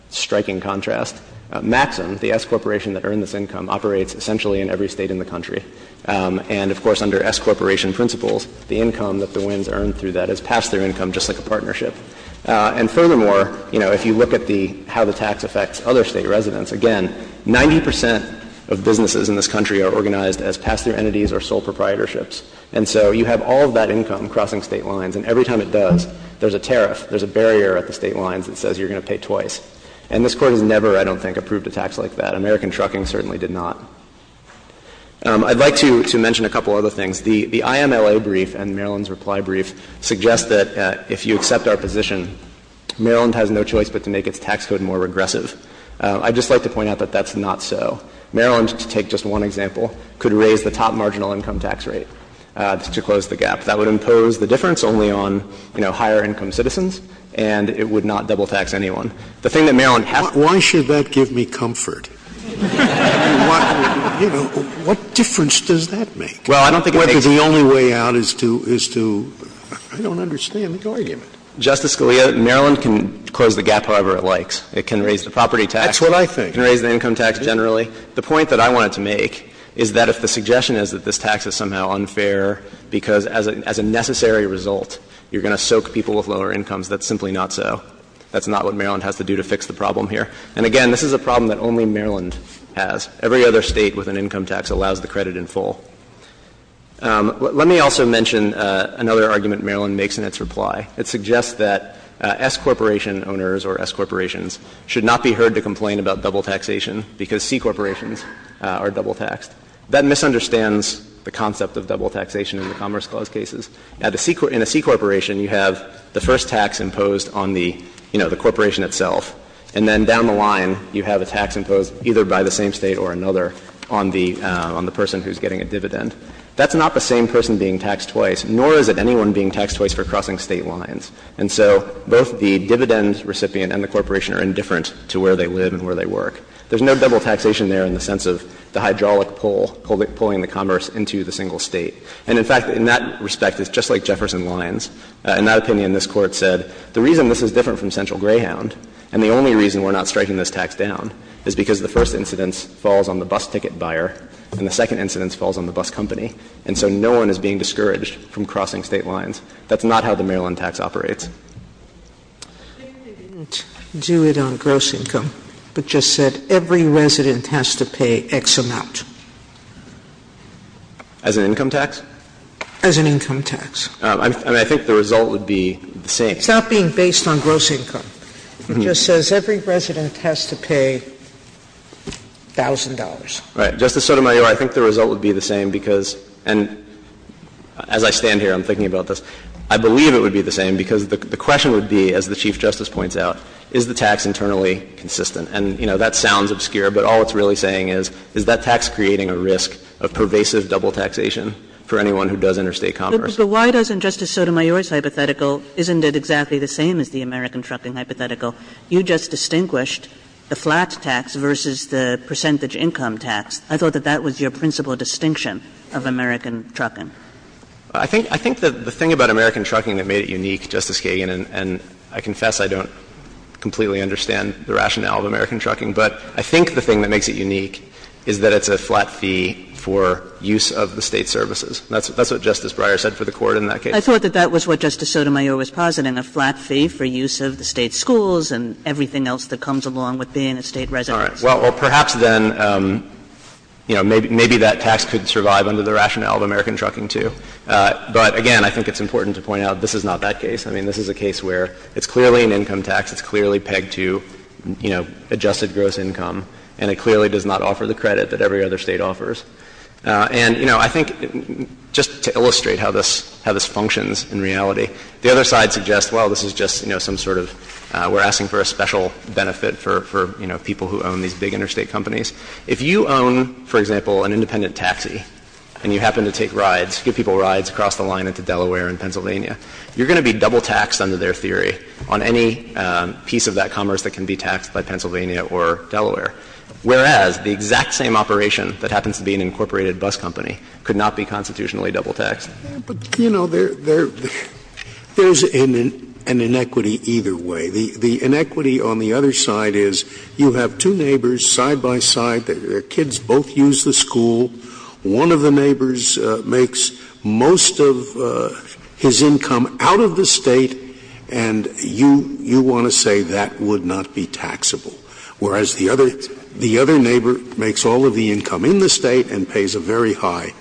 striking contrast, Maxim, the S Corporation that earned this income, operates essentially in every State in the country. And, of course, under S Corporation principles, the income that the WINS earned through that is pass-through income, just like a partnership. And furthermore, you know, if you look at the how the tax affects other State residents, again, 90 percent of businesses in this country are organized as pass-through entities or sole proprietorships. And so you have all of that income crossing State lines, and every time it does, there's a tariff, there's a barrier at the State lines that says you're going to pay twice. And this Court has never, I don't think, approved a tax like that. American Trucking certainly did not. I'd like to mention a couple of other things. The IMLA brief and Maryland's reply brief suggest that if you accept our position, Maryland has no choice but to make its tax code more regressive. I'd just like to point out that that's not so. Maryland, to take just one example, could raise the top marginal income tax rate to close the gap. That would impose the difference only on, you know, higher income citizens, and it would The thing that Maryland has to do is to raise the tax rate. I don't understand the argument. Justice Scalia, Maryland can close the gap however it likes. It can raise the property tax. That's what I think. It can raise the income tax generally. The point that I wanted to make is that if the suggestion is that this tax is somehow unfair, because as a necessary result, you're going to soak people with lower incomes, that's simply not so. That's not what Maryland has to do to fix the problem here. It's a problem that almost every State has to deal with. It's a problem that only Maryland has. Every other State with an income tax allows the credit in full. Let me also mention another argument Maryland makes in its reply. It suggests that S Corporation owners or S Corporations should not be heard to complain about double taxation because C Corporations are double taxed. That misunderstands the concept of double taxation in the Commerce Clause cases. In a C Corporation, you have the first tax imposed on the, you know, the corporation itself, and then down the line you have a tax imposed either by the same State or another on the person who's getting a dividend. That's not the same person being taxed twice, nor is it anyone being taxed twice for crossing State lines. And so both the dividend recipient and the corporation are indifferent to where they live and where they work. There's no double taxation there in the sense of the hydraulic pull, pulling the commerce into the single State. And in fact, in that respect, it's just like Jefferson Lines. In that opinion, this Court said the reason this is different from Central Greyhound and the only reason we're not striking this tax down is because the first incidence falls on the bus ticket buyer and the second incidence falls on the bus company. And so no one is being discouraged from crossing State lines. That's not how the Maryland tax operates. Sotomayor, I think they didn't do it on gross income, but just said every resident has to pay X amount. As an income tax? As an income tax. I think the result would be the same. It's not being based on gross income. It just says every resident has to pay $1,000. Right. Justice Sotomayor, I think the result would be the same because, and as I stand here I'm thinking about this, I believe it would be the same because the question would be, as the Chief Justice points out, is the tax internally consistent? And, you know, that sounds obscure, but all it's really saying is, is that tax creating a risk of pervasive double taxation for anyone who does interstate commerce? But why doesn't Justice Sotomayor's hypothetical, isn't it exactly the same as the American trucking hypothetical? You just distinguished the flat tax versus the percentage income tax. I thought that that was your principal distinction of American trucking. I think the thing about American trucking that made it unique, Justice Kagan, and I confess I don't completely understand the rationale of American trucking, but I think the thing that makes it unique is that it's a flat fee for use of the State services. That's what Justice Breyer said for the Court in that case. I thought that that was what Justice Sotomayor was positing, a flat fee for use of the State schools and everything else that comes along with being a State resident. All right. Well, perhaps then, you know, maybe that tax could survive under the rationale of American trucking, too. But, again, I think it's important to point out this is not that case. I mean, this is a case where it's clearly an income tax, it's clearly pegged to, you know, adjusted gross income, and it clearly does not offer the credit that every other State offers. And, you know, I think just to illustrate how this functions in reality, the other side suggests, well, this is just, you know, some sort of we're asking for a special benefit for, you know, people who own these big interstate companies. If you own, for example, an independent taxi and you happen to take rides, give people rides across the line into Delaware and Pennsylvania, you're going to be double taxed under their theory on any piece of that commerce that can be taxed by Pennsylvania or Delaware. Whereas the exact same operation that happens to be an incorporated bus company could not be constitutionally double taxed. Scalia. But, you know, there's an inequity either way. The inequity on the other side is you have two neighbors side by side, their kids both use the school, one of the neighbors makes most of his income out of the State, and you want to say that would not be taxable. Whereas the other neighbor makes all of the income in the State and pays a very high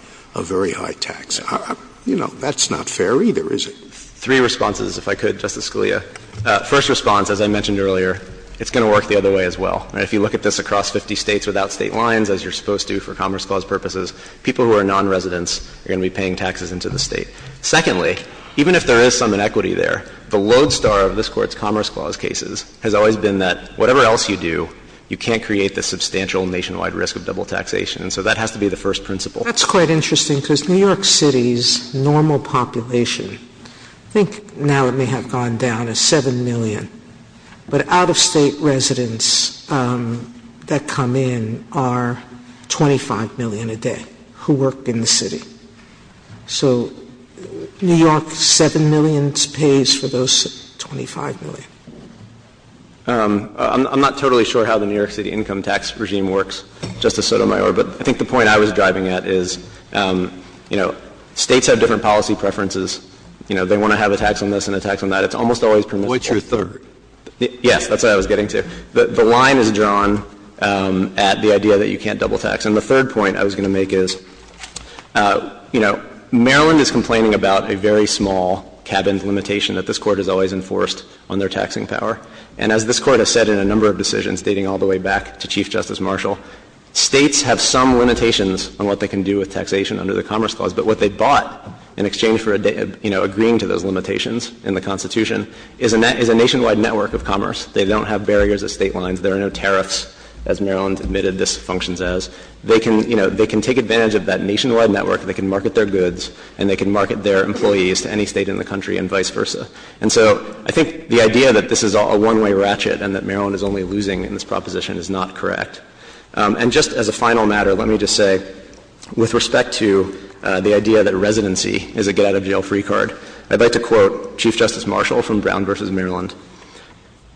tax. You know, that's not fair either, is it? Three responses, if I could, Justice Scalia. First response, as I mentioned earlier, it's going to work the other way as well. If you look at this across 50 States without State lines, as you're supposed to for Commerce Clause purposes, people who are nonresidents are going to be paying taxes into the State. Secondly, even if there is some inequity there, the lodestar of this Court's you do, you can't create the substantial nationwide risk of double taxation. So that has to be the first principle. That's quite interesting, because New York City's normal population, I think now it may have gone down to 7 million, but out-of-State residents that come in are 25 million a day who work in the City. So New York's 7 million pays for those 25 million. I'm not totally sure how the New York City income tax regime works, Justice Sotomayor, but I think the point I was driving at is, you know, States have different policy preferences. You know, they want to have a tax on this and a tax on that. It's almost always permissible. Well, it's your third. Yes. That's what I was getting to. The line is drawn at the idea that you can't double tax. And the third point I was going to make is, you know, Maryland is complaining about a very small cabin limitation that this Court has always enforced on their taxing power. And as this Court has said in a number of decisions dating all the way back to Chief Justice Marshall, States have some limitations on what they can do with taxation under the Commerce Clause. But what they bought in exchange for, you know, agreeing to those limitations in the Constitution is a nationwide network of commerce. They don't have barriers at State lines. There are no tariffs, as Maryland admitted this functions as. They can, you know, they can take advantage of that nationwide network. They can market their goods and they can market their employees to any State in the country and vice versa. And so, I think the idea that this is a one-way ratchet and that Maryland is only losing in this proposition is not correct. And just as a final matter, let me just say, with respect to the idea that residency is a get-out-of-jail-free card, I'd like to quote Chief Justice Marshall from Brown v. Maryland.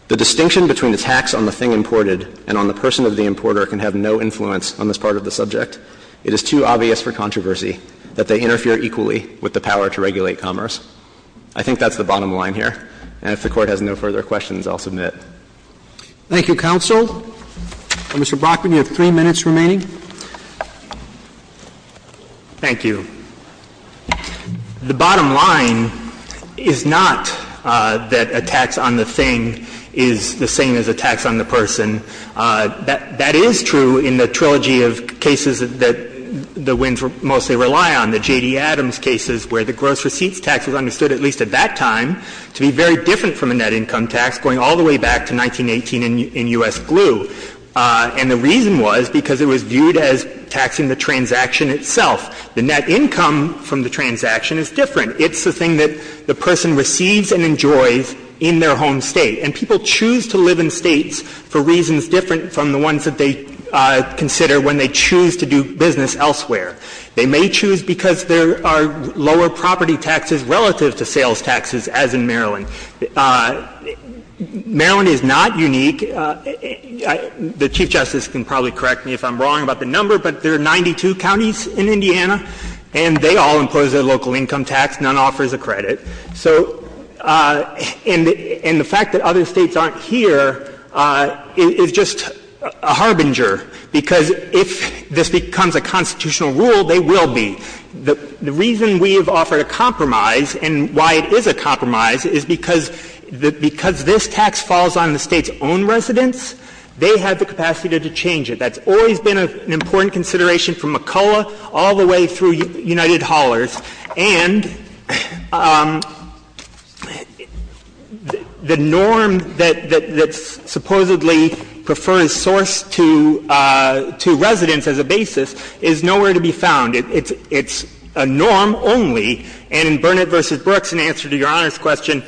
The distinction between the tax on the thing imported and on the person of the importer can have no influence on this part of the subject. It is too obvious for controversy that they interfere equally with the power to regulate commerce. I think that's the bottom line here. And if the Court has no further questions, I'll submit. Roberts. Thank you, counsel. Mr. Brockman, you have three minutes remaining. Thank you. The bottom line is not that a tax on the thing is the same as a tax on the person. That is true in the trilogy of cases that the Wins mostly rely on, the J.D. Adams cases where the gross receipts tax was understood, at least at that time, to be very different from a net income tax going all the way back to 1918 in U.S. glue. And the reason was because it was viewed as taxing the transaction itself. The net income from the transaction is different. It's the thing that the person receives and enjoys in their home State. And people choose to live in States for reasons different from the ones that they consider when they choose to do business elsewhere. They may choose because there are lower property taxes relative to sales taxes, as in Maryland. Maryland is not unique. The Chief Justice can probably correct me if I'm wrong about the number, but there are 92 counties in Indiana, and they all impose a local income tax. None offers a credit. And the fact that other States aren't here is just a harbinger, because if this becomes a constitutional rule, they will be. The reason we have offered a compromise, and why it is a compromise, is because this tax falls on the State's own residents. They have the capacity to change it. That's always been an important consideration from McCulloch all the way through United Haulers. And the norm that supposedly prefers source to residents as a basis is nowhere to be found. It's a norm only. And in Burnett v. Brooks, in answer to Your Honor's question,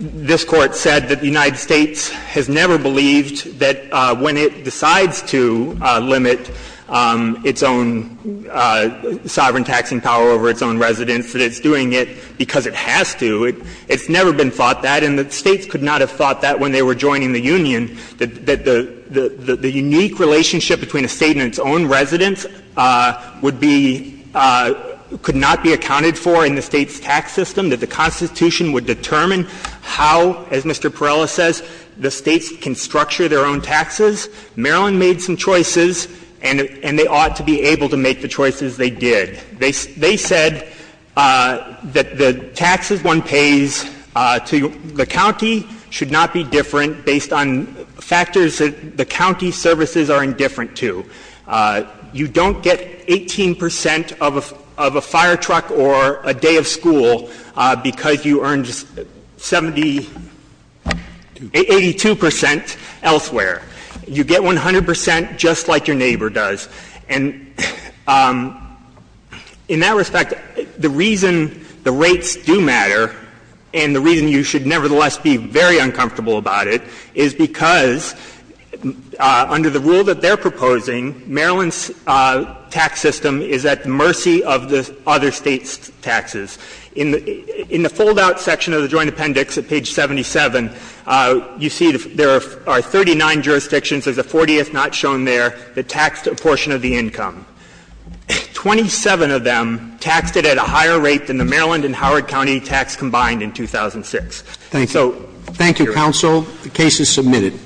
this Court said that the United States has never believed that when it decides to limit its own sovereign taxing power over its own residents that it's doing it because it has to. It's never been thought that. And the States could not have thought that when they were joining the union, that the unique relationship between a State and its own residents would be — could not be accounted for in the State's tax system, that the Constitution would determine how, as Mr. Perrella says, the States can structure their own taxes. Maryland made some choices, and they ought to be able to make the choices they did. They said that the taxes one pays to the county should not be different based on factors that the county services are indifferent to. You don't get 18 percent of a fire truck or a day of school because you earned 70 — 82 percent elsewhere. You get 100 percent just like your neighbor does. And in that respect, the reason the rates do matter and the reason you should nevertheless be very uncomfortable about it is because under the rule that they're proposing, Maryland's tax system is at mercy of the other States' taxes. In the — in the fold-out section of the Joint Appendix at page 77, you see there are 39 jurisdictions. There's a 40th not shown there. They taxed a portion of the income. Twenty-seven of them taxed it at a higher rate than the Maryland and Howard County tax combined in 2006. So, here we are. Thank you. Thank you, counsel. The case is submitted.